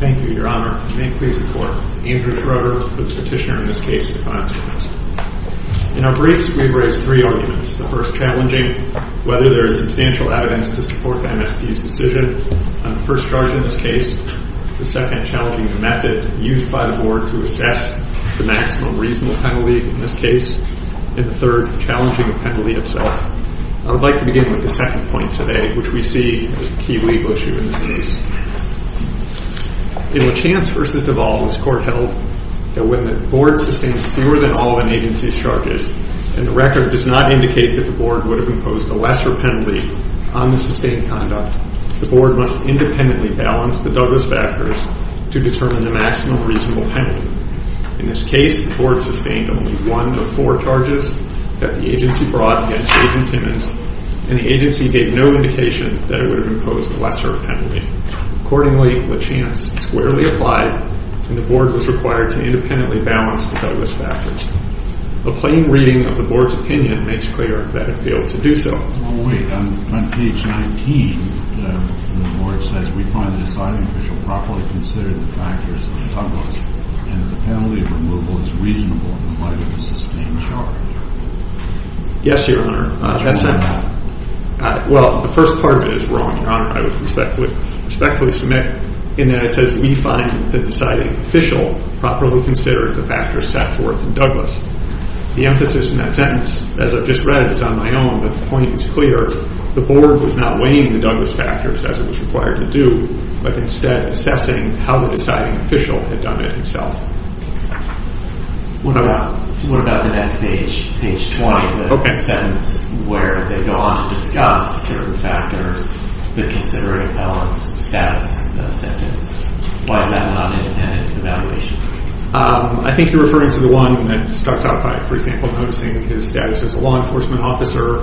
Thank you, Your Honor. May it please the Court, Andrew Schroeder, the Petitioner in this case, the client's witness. In our briefs, we've raised three arguments. The first, challenging whether there is substantial evidence to support the MSP's decision on the first charge in this case. The second, challenging the method used by the Board to assess the maximum reasonable penalty in this case. And the third, challenging the penalty itself. I would like to begin with the second point today, which we see as the key legal issue in this case. In Lachance v. Duvall, this Court held that when the Board sustains fewer than all of an agency's charges, and the record does not indicate that the Board would have imposed a lesser penalty on the sustained conduct, the Board must independently balance the Douglas factors to determine the maximum reasonable penalty. In this case, the Board sustained only one of four charges that the agency brought against Agent Timmons, and the agency gave no indication that it would have imposed a lesser penalty. Accordingly, Lachance squarely applied, and the Board was required to independently balance the Douglas factors. A plain reading of the Board's opinion makes clear that it failed to do so. Well, wait. On page 19, the Board says, we find the deciding official properly considered the factors of the Douglas, and that the penalty of removal is reasonable in the light of the sustained charge. Yes, Your Honor. That's wrong. Well, the first part of it is wrong, Your Honor. I would respectfully submit, in that it says, we find the deciding official properly considered the factors set forth in Douglas. The emphasis in that sentence, as I've just read, is on my own, but the point is clear. The Board was not weighing the Douglas factors as it was required to do, but instead assessing how the deciding official had done it himself. What about the next page, page 20? Okay. The sentence where they go on to discuss certain factors, they're considering Ellis' status sentence. Why is that not an evaluation? I think you're referring to the one that starts out by, for example, noticing his status as a law enforcement officer.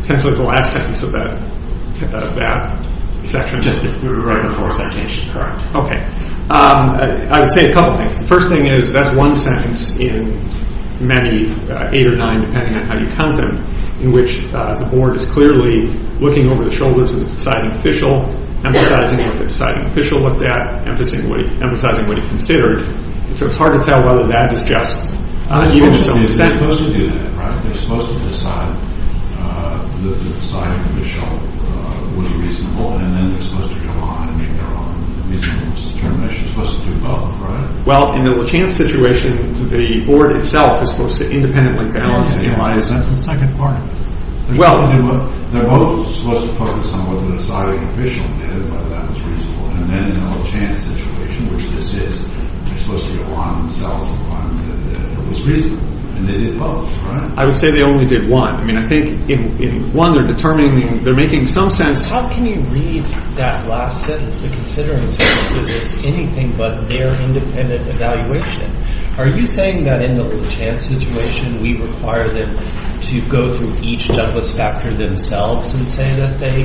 Essentially, the last sentence of that section. Just right before citation. Okay. I would say a couple things. The first thing is, that's one sentence in many, eight or nine, depending on how you count them, in which the Board is clearly looking over the shoulders of the deciding official, emphasizing what the deciding official looked at, emphasizing what he considered, so it's hard to tell whether that is just. They're supposed to do that, right? They're supposed to decide the deciding official was reasonable, and then they're supposed to go on and make their own reasonable determination. They're supposed to do both, right? Well, in the LaChanze situation, the Board itself is supposed to independently balance and analyze. That's the second part. Well. They're both supposed to focus on what the deciding official did, whether that was reasonable, and then in the LaChanze situation, which this is, they're supposed to go on themselves and find that it was reasonable. And they did both, right? I would say they only did one. I mean, I think in one, they're determining, they're making some sense. How can you read that last sentence? They're considering something that's anything but their independent evaluation. Are you saying that in the LaChanze situation, we require them to go through each judgment and say that they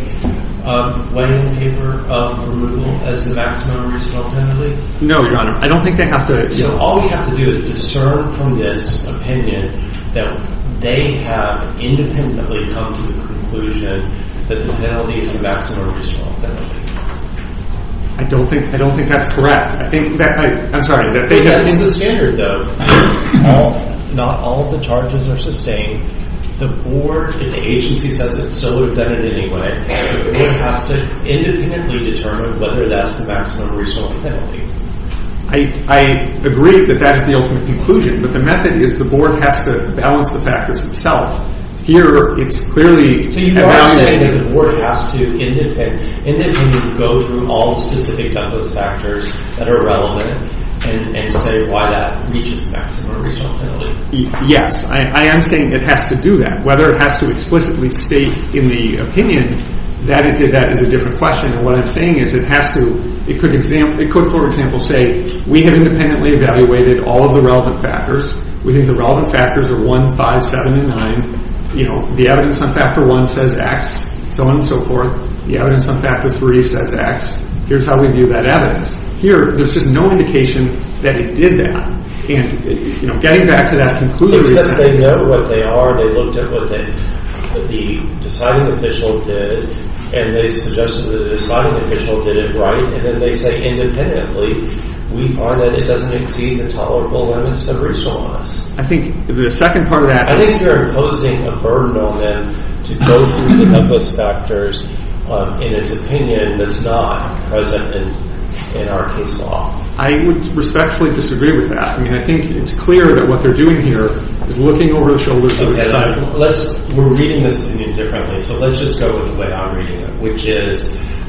weigh in the paper of removal as the maximum reasonable penalty? No, Your Honor. I don't think they have to. All we have to do is discern from this opinion that they have independently come to the conclusion that the penalty is the maximum reasonable penalty. I don't think that's correct. I'm sorry. In the standard, though, not all of the charges are sustained. The board, if the agency says it, still would have done it anyway. The board has to independently determine whether that's the maximum reasonable penalty. I agree that that's the ultimate conclusion, but the method is the board has to balance the factors itself. Here, it's clearly evaluated. So you are saying that the board has to independently go through all the specific Douglas factors that are relevant and say why that reaches the maximum reasonable penalty? Yes, I am saying it has to do that. Whether it has to explicitly state in the opinion that it did that is a different question. What I'm saying is it could, for example, say we have independently evaluated all of the relevant factors. We think the relevant factors are 1, 5, 7, and 9. The evidence on factor 1 says X, so on and so forth. The evidence on factor 3 says X. Here's how we view that evidence. Here, there's just no indication that it did that. Getting back to that conclusion. Except they know what they are, they looked at what the deciding official did, and they suggested that the deciding official did it right, and then they say independently we find that it doesn't exceed the tolerable limits that are original on us. I think the second part of that is I think they're imposing a burden on them to go through the Douglas factors in its opinion that's not present in our case law. I would respectfully disagree with that. I think it's clear that what they're doing here is looking over the shoulders of its side. We're reading this opinion differently, so let's just go with the way I'm reading it, which is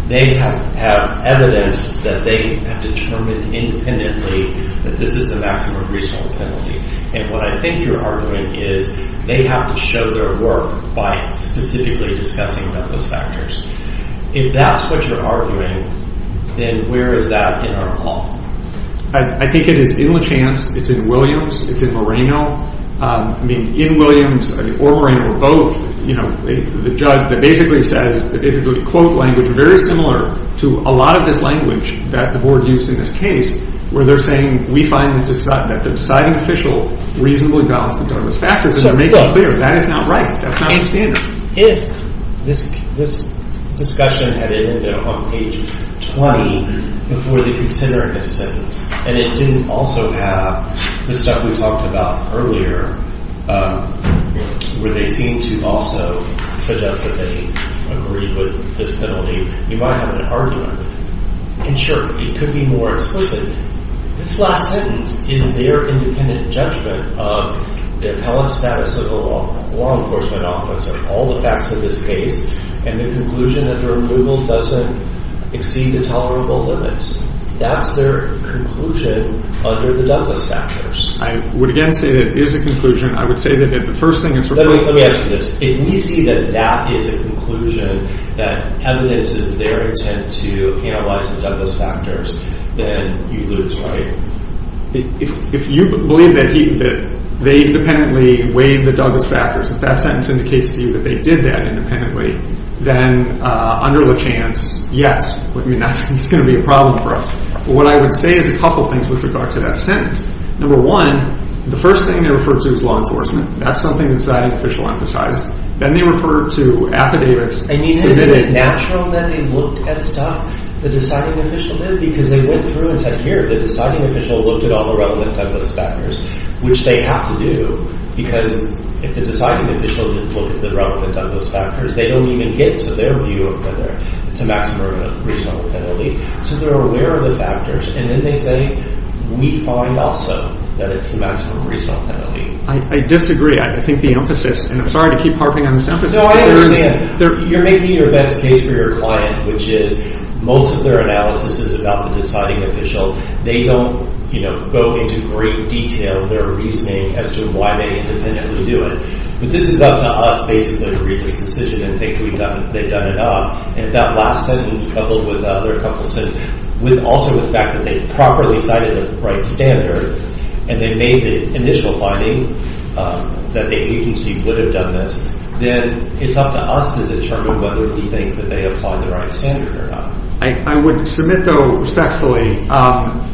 they have evidence that they have determined independently that this is the maximum reasonable penalty. What I think you're arguing is they have to show their work by specifically discussing Douglas factors. If that's what you're arguing, then where is that in our law? I think it is in Lachance. It's in Williams. It's in Moreno. I mean, in Williams or Moreno or both, you know, the judge that basically says the quote language is very similar to a lot of this language that the board used in this case where they're saying we find that the deciding official reasonably balanced the Douglas factors, and they're making it clear that is not right. That's not the standard. If this discussion had ended on page 20 before they considered this sentence and it didn't also have the stuff we talked about earlier where they seem to also suggest that they agree with this penalty, you might have an argument. And sure, it could be more explicit. This last sentence is their independent judgment of the appellate status of a law enforcement officer, all the facts of this case, and the conclusion that the removal doesn't exceed the tolerable limits. That's their conclusion under the Douglas factors. I would, again, say that it is a conclusion. I would say that the first thing it's required. Let me ask you this. If we see that that is a conclusion, that evidence is their intent to analyze the Douglas factors, then you lose, right? If you believe that they independently weighed the Douglas factors, if that sentence indicates to you that they did that independently, then under LeChance, yes. I mean, that's going to be a problem for us. But what I would say is a couple of things with regard to that sentence. Number one, the first thing they referred to is law enforcement. That's something the deciding official emphasized. Then they referred to affidavits. I mean, is it natural that they looked at stuff the deciding official did? Because they went through and said, here, the deciding official looked at all the relevant Douglas factors, which they have to do because if the deciding official didn't look at the relevant Douglas factors, they don't even get to their view of whether it's a maximum reasonable penalty. So they're aware of the factors. And then they say, we find also that it's a maximum reasonable penalty. I disagree. I think the emphasis, and I'm sorry to keep harping on this emphasis. No, I understand. You're making your best case for your client, which is most of their analysis is about the deciding official. They don't go into great detail of their reasoning as to why they independently do it. But this is up to us basically to read this decision and think they've done enough. And if that last sentence, coupled with the other couple of sentences, with also the fact that they properly cited the right standard, and they made the initial finding that the agency would have done this, then it's up to us to determine whether we think that they applied the right standard or not. I would submit, though, respectfully,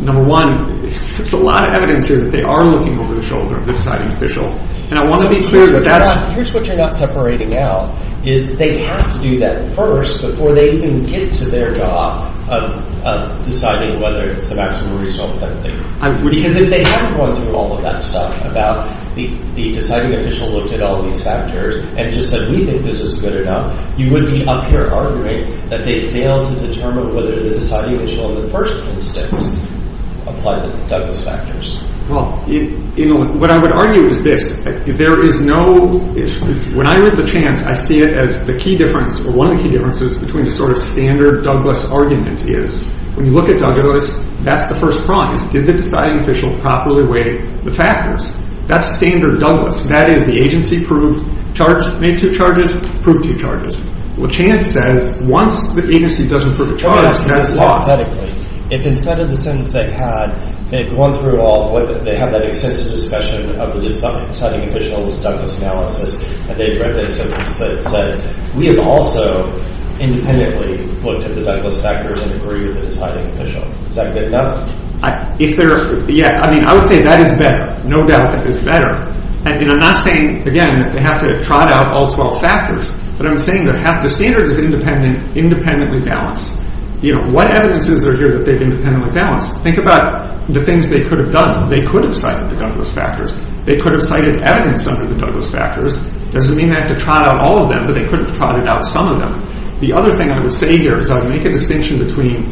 number one, there's a lot of evidence here that they are looking over the shoulder of the deciding official. And I want to be clear that that's. Here's what you're not separating out, is that they have to do that first before they even get to their job of deciding whether it's the maximum reasonable penalty. Because if they haven't gone through all of that stuff about the deciding official looked at all these factors, and just said, we think this is good enough, you would be up here arguing that they failed to determine whether the deciding official in the first instance applied the Douglas factors. Well, what I would argue is this. There is no, when I read the chance, I see it as the key difference, or one of the key differences between the sort of standard Douglas argument is, when you look at Douglas, that's the first prize. Did the deciding official properly weigh the factors? That's standard Douglas. That is, the agency proved charges, made two charges, proved two charges. What chance says, once the agency doesn't prove a charge, that's lost. If instead of the sentence they had, they'd gone through all, they have that extensive discussion of the deciding official's Douglas analysis, and they read the sentence that said, we have also independently looked at the Douglas factors and agreed with the deciding official. Is that good enough? If they're, yeah, I mean, I would say that is better. No doubt that is better. And I'm not saying, again, that they have to trot out all 12 factors, but I'm saying there has to, the standard is independent, independently balanced. You know, what evidence is there here that they've independently balanced? Think about the things they could have done. They could have cited the Douglas factors. They could have cited evidence under the Douglas factors. It doesn't mean they have to trot out all of them, but they could have trotted out some of them. The other thing I would say here is I would make a distinction between,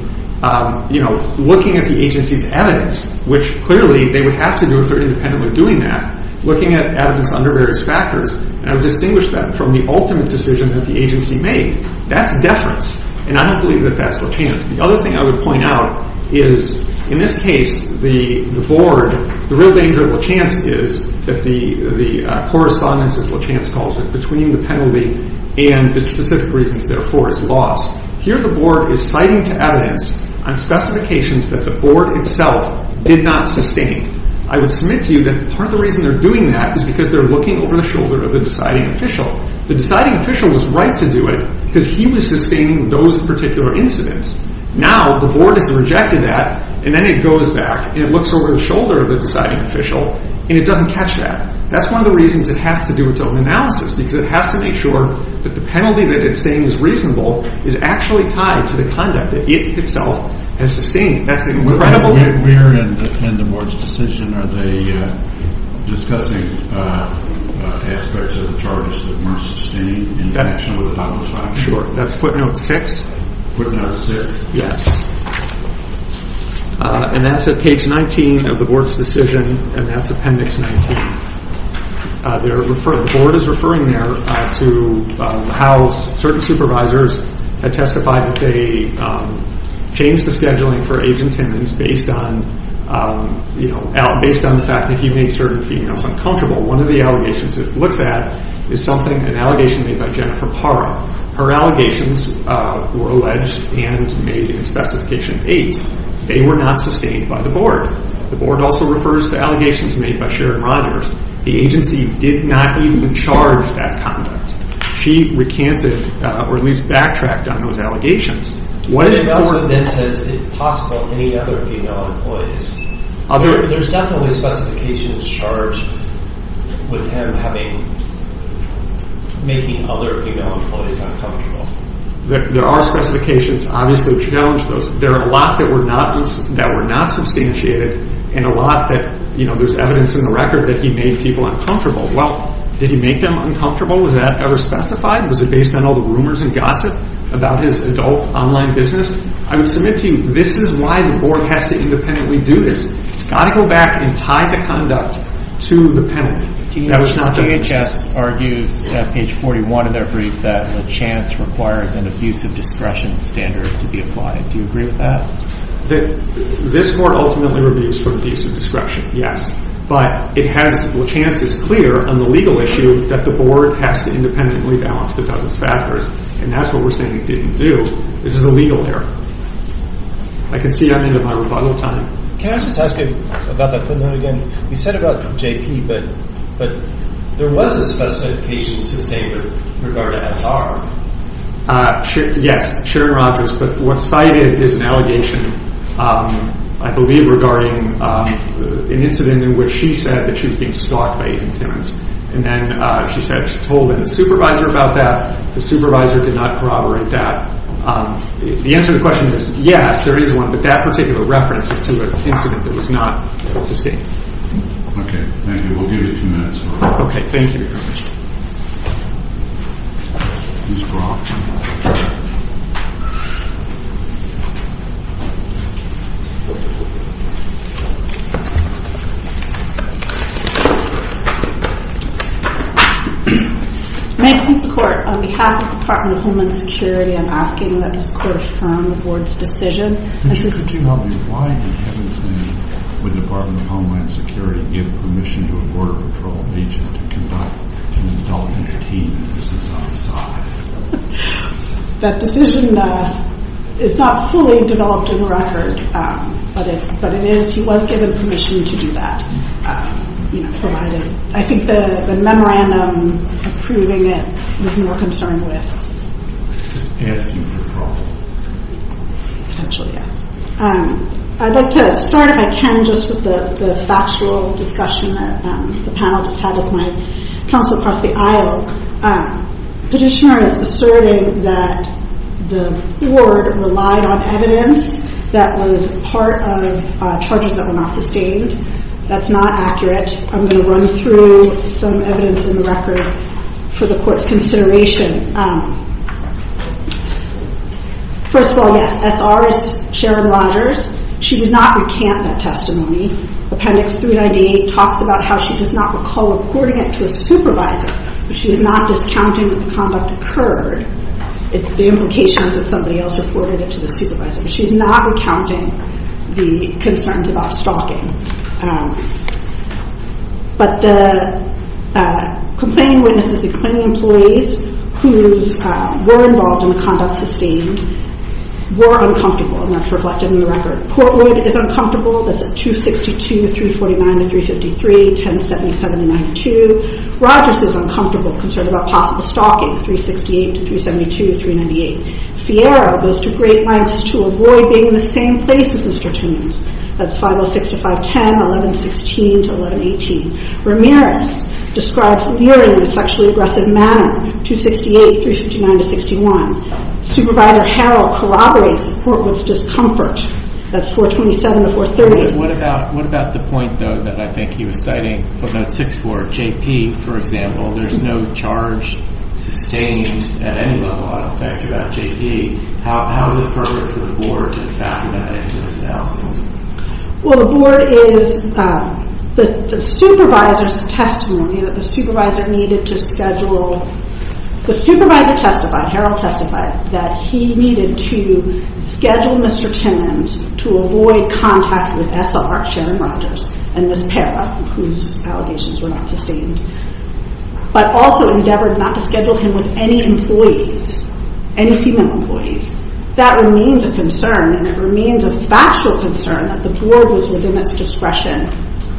you know, looking at the agency's evidence, which clearly they would have to do if they're independently doing that, looking at evidence under various factors, and I would distinguish that from the ultimate decision that the agency made. That's deference, and I don't believe that that's le chance. The other thing I would point out is in this case, the board, the real danger of le chance is that the correspondence, as le chance calls it, between the penalty and the specific reasons therefore is lost. Here the board is citing to evidence on specifications that the board itself did not sustain. I would submit to you that part of the reason they're doing that is because they're looking over the shoulder of the deciding official. The deciding official was right to do it because he was sustaining those particular incidents. Now the board has rejected that, and then it goes back, and it looks over the shoulder of the deciding official, and it doesn't catch that. That's one of the reasons it has to do its own analysis, because it has to make sure that the penalty that it's saying is reasonable is actually tied to the conduct that it itself has sustained. That's an incredible thing. We're in the board's decision. Are they discussing aspects of the charges that weren't sustained in connection with the public file? Sure. That's footnote 6. Footnote 6. Yes, and that's at page 19 of the board's decision, and that's appendix 19. The board is referring there to how certain supervisors had testified that they changed the scheduling for age and tendons based on the fact that he made certain females uncomfortable. One of the allegations it looks at is an allegation made by Jennifer Parra. Her allegations were alleged and made in Specification 8. They were not sustained by the board. The board also refers to allegations made by Sharon Rogers. The agency did not even charge that conduct. She recanted or at least backtracked on those allegations. The board then says it's possible any other female employees. There's definitely specifications charged with him making other female employees uncomfortable. There are specifications. Obviously, we challenge those. There are a lot that were not substantiated and a lot that there's evidence in the record that he made people uncomfortable. Well, did he make them uncomfortable? Was that ever specified? Was it based on all the rumors and gossip about his adult online business? I would submit to you this is why the board has to independently do this. It's got to go back and tie the conduct to the penalty. DHS argues at page 41 in their brief that LaChance requires an abusive discretion standard to be applied. Do you agree with that? This court ultimately reviews for abusive discretion, yes. But LaChance is clear on the legal issue that the board has to independently balance the governance factors. And that's what we're saying it didn't do. This is a legal error. I can see I'm into my rebuttal time. Can I just ask you about that? We said about JP, but there was a specification sustained with regard to SR. Yes, Sharon Rogers. But what's cited is an allegation, I believe, regarding an incident in which she said that she was being stalked by 18 tenants. And then she said she told the supervisor about that. The supervisor did not corroborate that. The answer to the question is yes, there is one. But that particular reference is to an incident that was not sustained. Okay, thank you. We'll give you two minutes. Okay, thank you. May it please the court, on behalf of the Department of Homeland Security, I'm asking that this court affirm the board's decision. Why did Kevin's name with the Department of Homeland Security give permission to a Border Patrol agent to conduct an adult entertainment business outside? That decision is not fully developed in the record. But it is, he was given permission to do that, provided. I think the memorandum approving it was more concerned with? Asking for trouble. Potentially, yes. I'd like to start, if I can, just with the factual discussion that the panel just had with my counsel across the aisle. Petitioner is asserting that the board relied on evidence that was part of charges that were not sustained. That's not accurate. I'm going to run through some evidence in the record for the court's consideration. First of all, yes, S.R. is Sharon Rogers. She did not recant that testimony. Appendix 398 talks about how she does not recall reporting it to a supervisor. She is not discounting that the conduct occurred. The implication is that somebody else reported it to the supervisor. She's not recounting the concerns about stalking. But the complaining witnesses, the complaining employees who were involved in the conduct sustained, were uncomfortable. And that's reflected in the record. Portwood is uncomfortable. That's at 262, 349 to 353, 1070, 7092. Rogers is uncomfortable, concerned about possible stalking, 368 to 372, 398. Fierro goes to great lengths to avoid being in the same place as Mr. Tones. That's 506 to 510, 1116 to 1118. Ramirez describes leering in a sexually aggressive manner, 268, 359 to 61. Supervisor Harrell corroborates Portwood's discomfort. That's 427 to 430. What about the point, though, that I think he was citing from that sixth board? JP, for example. There's no charge sustained at any level, out of effect, about JP. How is it appropriate for the board to factor that into this analysis? Well, the board is—the supervisor's testimony that the supervisor needed to schedule— the supervisor testified, Harrell testified, that he needed to schedule Mr. Timmons to avoid contact with SR, Sharon Rogers, and Ms. Parra, whose allegations were not sustained, but also endeavored not to schedule him with any employees, any female employees. That remains a concern, and it remains a factual concern that the board was within its discretion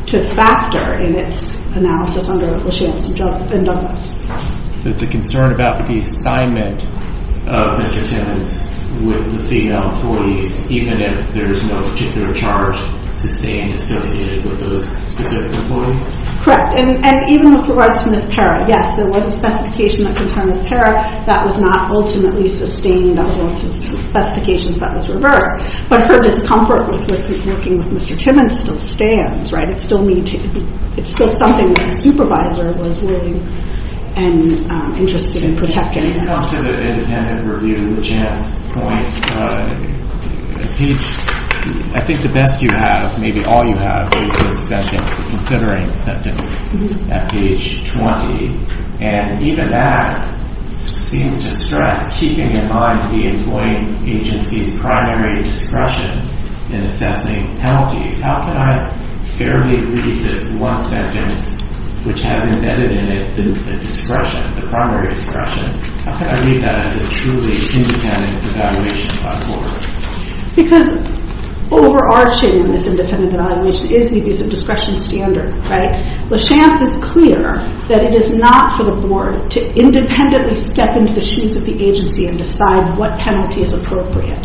to factor in its analysis under Lucien's and Douglas'. So it's a concern about the assignment of Mr. Timmons with the female employees, even if there's no particular charge sustained associated with those specific employees? Correct. And even with regards to Ms. Parra, yes, there was a specification that concerns Parra that was not ultimately sustained, as well as specifications that was reversed. But her discomfort with working with Mr. Timmons still stands, right? It's still something that the supervisor was willing and interested in protecting. To come to the independent review chance point, I think the best you have, maybe all you have, is the sentence, the considering sentence at page 20. And even that seems to stress keeping in mind the employee agency's primary discretion in assessing penalties. How can I fairly read this one sentence which has embedded in it the discretion, the primary discretion? How can I read that as a truly independent evaluation by the board? Because overarching in this independent evaluation is the abuse of discretion standard, right? The chance is clear that it is not for the board to independently step into the shoes of the agency and decide what penalty is appropriate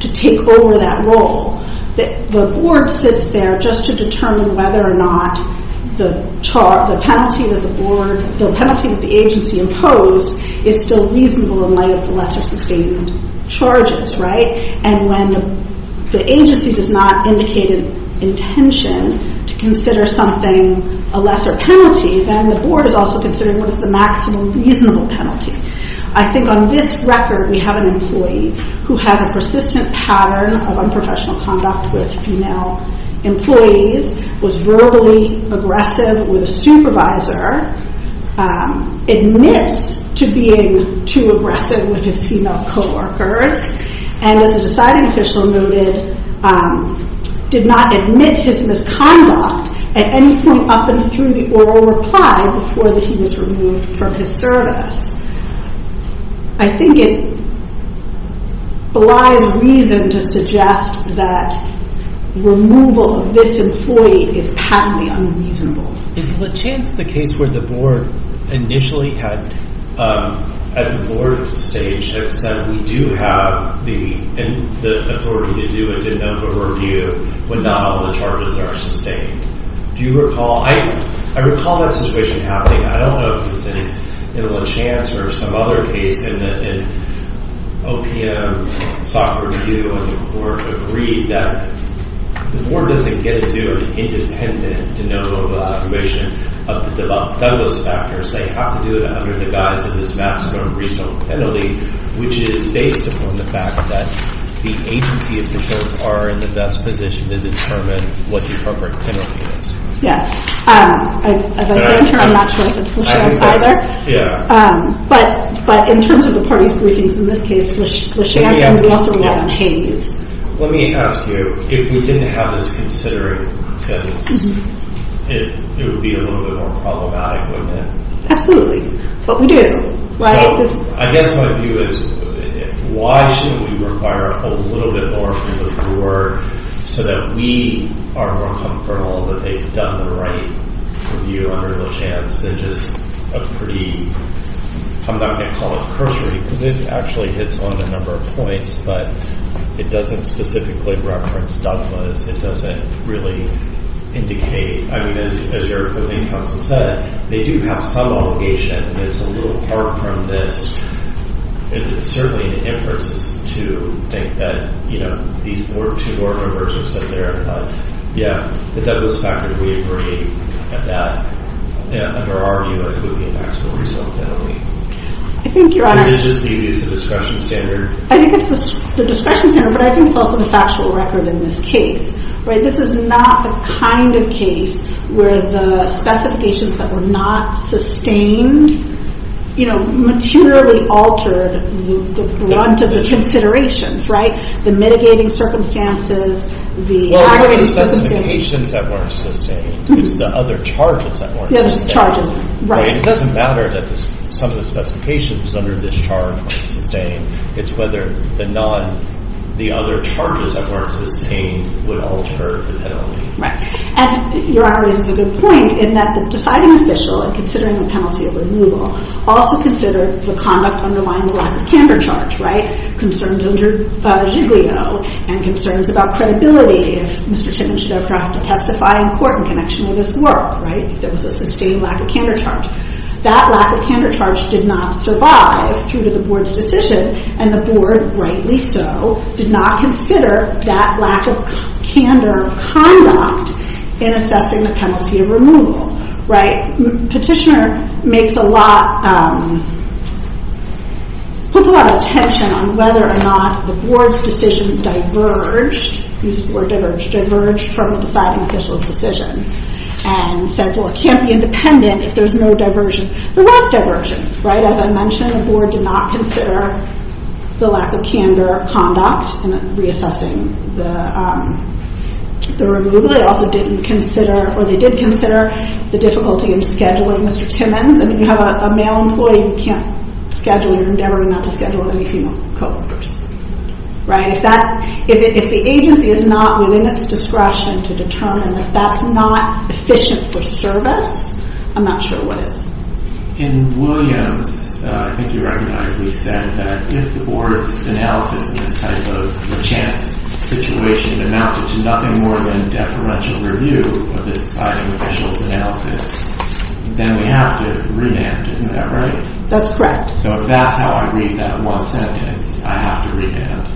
to take over that role. The board sits there just to determine whether or not the penalty that the agency imposed is still reasonable in light of the lesser sustained charges, right? And when the agency does not indicate an intention to consider something a lesser penalty, then the board is also considering what is the maximum reasonable penalty. I think on this record, we have an employee who has a persistent pattern of unprofessional conduct with female employees, was verbally aggressive with a supervisor, admits to being too aggressive with his female co-workers, and as the deciding official noted, did not admit his misconduct at any point up and through the oral reply before he was removed from his service. I think it belies reason to suggest that removal of this employee is patently unreasonable. Is Lechance the case where the board initially had, at the board stage, had said we do have the authority to do a de novo review when not all the charges are sustained? Do you recall? I recall that situation happening. I don't know if it was in Lechance or some other case in OPM, where the board agreed that the board doesn't get to do an independent de novo evaluation of the Douglas factors. They have to do it under the guise of this maximum reasonable penalty, which is based upon the fact that the agency officials are in the best position to determine what the appropriate penalty is. Yeah. As I said, I'm not sure if it's Lechance either. But in terms of the parties' briefings in this case, Lechance and we also rely on Hays. Let me ask you, if we didn't have this considering sentence, it would be a little bit more problematic, wouldn't it? Absolutely. But we do, right? I guess my view is, why shouldn't we require a little bit more from the board so that we are more comfortable that they've done the right review under Lechance than just a pretty, I'm not going to call it cursory, because it actually hits on a number of points, but it doesn't specifically reference Douglas. It doesn't really indicate. I mean, as your opposing counsel said, they do have some obligation, and it's a little apart from this. It's certainly an inference to think that, you know, these were two board members who said there, and I thought, yeah, that that was a factor that we agreed at that. And under our view, it could be a factual reasonable penalty. I think your Honor. I mean, is the discretion standard. I think it's the discretion standard, but I think it's also the factual record in this case, right? This is not the kind of case where the specifications that were not sustained, you know, materially altered the brunt of the considerations, right? The mitigating circumstances, the aggravating circumstances. Well, it's not the specifications that weren't sustained. It's the other charges that weren't sustained. The other charges, right. It doesn't matter that some of the specifications under this charge weren't sustained. It's whether the other charges that weren't sustained would alter the penalty. Right. And your Honor raises a good point in that the deciding official in considering the penalty of removal also considered the conduct underlying the lack of candor charge, right? Concerns injured by Giglio and concerns about credibility, if Mr. Titton should ever have to testify in court in connection with his work, right? If there was a sustained lack of candor charge. That lack of candor charge did not survive through to the board's decision, and the board, rightly so, did not consider that lack of candor conduct in assessing the penalty of removal. Petitioner makes a lot, puts a lot of attention on whether or not the board's decision diverged, uses the word diverged, diverged from the deciding official's decision. And says, well, it can't be independent if there's no diversion. There was diversion, right? As I mentioned, the board did not consider the lack of candor conduct in reassessing the removal. They also didn't consider, or they did consider, the difficulty in scheduling Mr. Timmons. I mean, you have a male employee who can't schedule, you're endeavoring not to schedule any female co-workers, right? If that, if the agency is not within its discretion to determine that that's not efficient for service, I'm not sure what is. In Williams, I think you recognize, we said that if the board's analysis of this type of chance situation amounted to nothing more than deferential review of this deciding official's analysis, then we have to revamp, isn't that right? That's correct. So if that's how I read that one sentence, I have to revamp.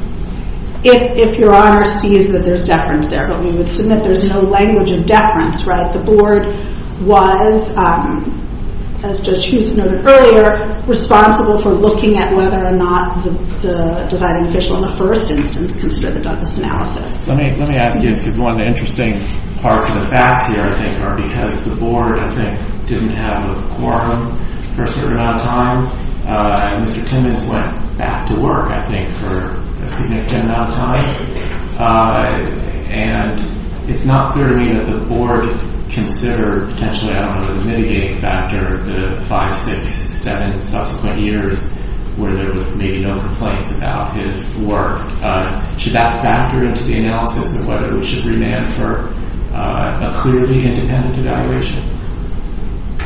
If your honor sees that there's deference there, but we would submit there's no language of deference, right? The board was, as Judge Houston noted earlier, responsible for looking at whether or not the deciding official in the first instance considered the Douglas analysis. Let me ask you this, because one of the interesting parts of the facts here, I think, are because the board, I think, didn't have a quorum for a certain amount of time, and Mr. Timmons went back to work, I think, for a significant amount of time. And it's not clear to me that the board considered, potentially, I don't know, as a mitigating factor the five, six, seven subsequent years where there was maybe no complaints about his work. Should that factor into the analysis of whether we should remand for a clearly independent evaluation?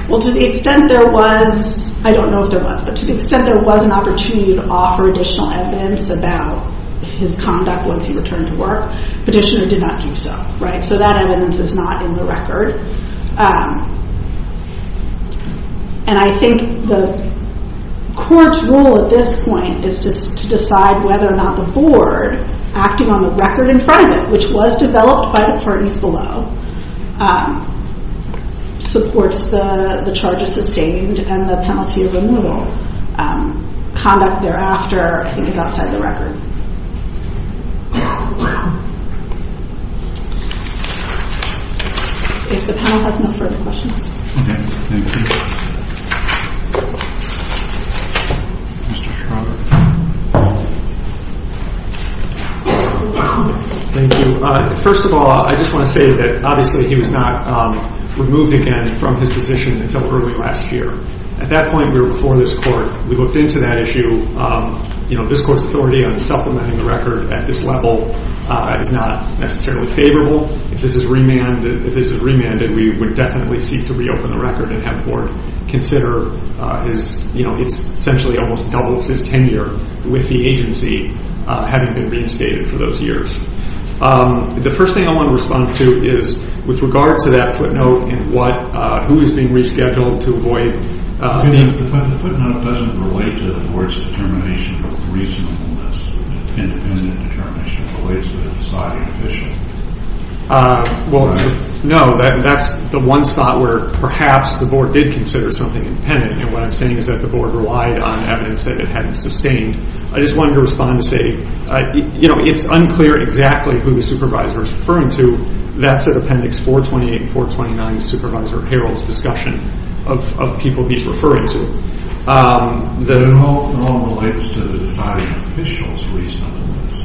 Well, to the extent there was, I don't know if there was, but to the extent there was an opportunity to offer additional evidence about his conduct once he returned to work, petitioner did not do so, right? So that evidence is not in the record. And I think the court's role at this point is to decide whether or not the board, acting on the record in front of it, which was developed by the parties below, supports the charges sustained and the penalty of remodeled. Conduct thereafter, I think, is outside the record. If the panel has no further questions. Okay. Thank you. Mr. Schroeder. Thank you. First of all, I just want to say that, obviously, he was not removed again from his position until early last year. At that point, we were before this court. We looked into that issue. You know, this court's authority on supplementing the record at this level is not necessarily favorable. If this is remanded, we would definitely seek to reopen the record and have the board consider his, you know, it essentially almost doubles his tenure with the agency, having been reinstated for those years. The first thing I want to respond to is, with regard to that footnote and what, who is being rescheduled to avoid being- But the footnote doesn't relate to the board's determination of reasonableness. Independent determination relates to the deciding official. Well, no. That's the one spot where perhaps the board did consider something independent. And what I'm saying is that the board relied on evidence that it hadn't sustained. I just wanted to respond to say, you know, it's unclear exactly who the supervisor is referring to. That's at Appendix 428 and 429, Supervisor Harrell's discussion of people he's referring to. It all relates to the deciding official's reasonableness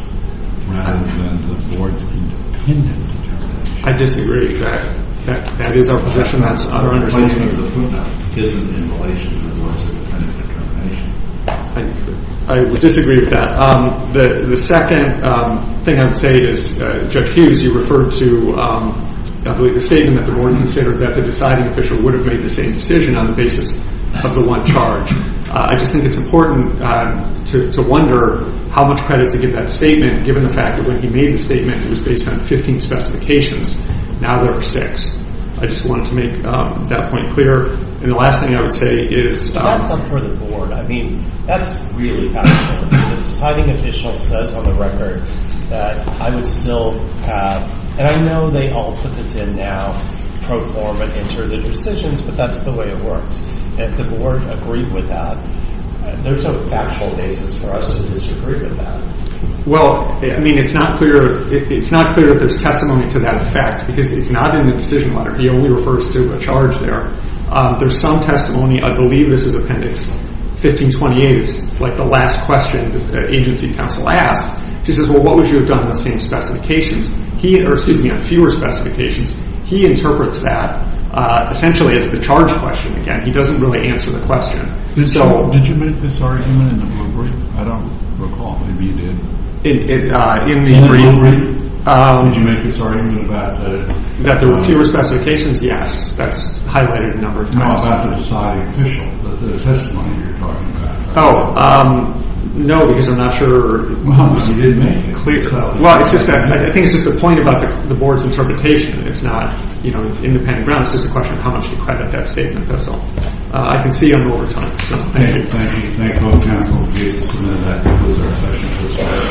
rather than the board's independent determination. I disagree. That is our possession. That's our understanding. The placement of the footnote isn't in relation to the board's independent determination. I disagree with that. The second thing I would say is, Judge Hughes, you referred to, I believe, the statement that the board considered that the deciding official would have made the same decision on the basis of the one charge. I just think it's important to wonder how much credit to give that statement, given the fact that when he made the statement, it was based on 15 specifications. Now there are six. I just wanted to make that point clear. And the last thing I would say is— That's not for the board. I mean, that's really fascinating. The deciding official says on the record that I would still have— I know they all put this in now, pro forma, enter the decisions, but that's the way it works. If the board agreed with that, there's a factual basis for us to disagree with that. Well, I mean, it's not clear if there's testimony to that effect, because it's not in the decision letter. He only refers to a charge there. There's some testimony—I believe this is Appendix 1528. It's like the last question the agency counsel asks. She says, well, what would you have done with the same specifications? He—or excuse me, fewer specifications. He interprets that essentially as the charge question again. He doesn't really answer the question. Did you make this argument in the brief? I don't recall. Maybe you did. In the brief? Did you make this argument about— That there were fewer specifications? Yes. That's highlighted in the number of questions. No, about the deciding official, the testimony you're talking about. Oh, no, because I'm not sure— Well, you did make it clear, though. Well, I think it's just a point about the board's interpretation. It's not independent ground. It's just a question of how much to credit that statement. That's all. I can see you in overtime. Thank you. Thank you. Thank both counsel and cases. And with that, we'll close our session.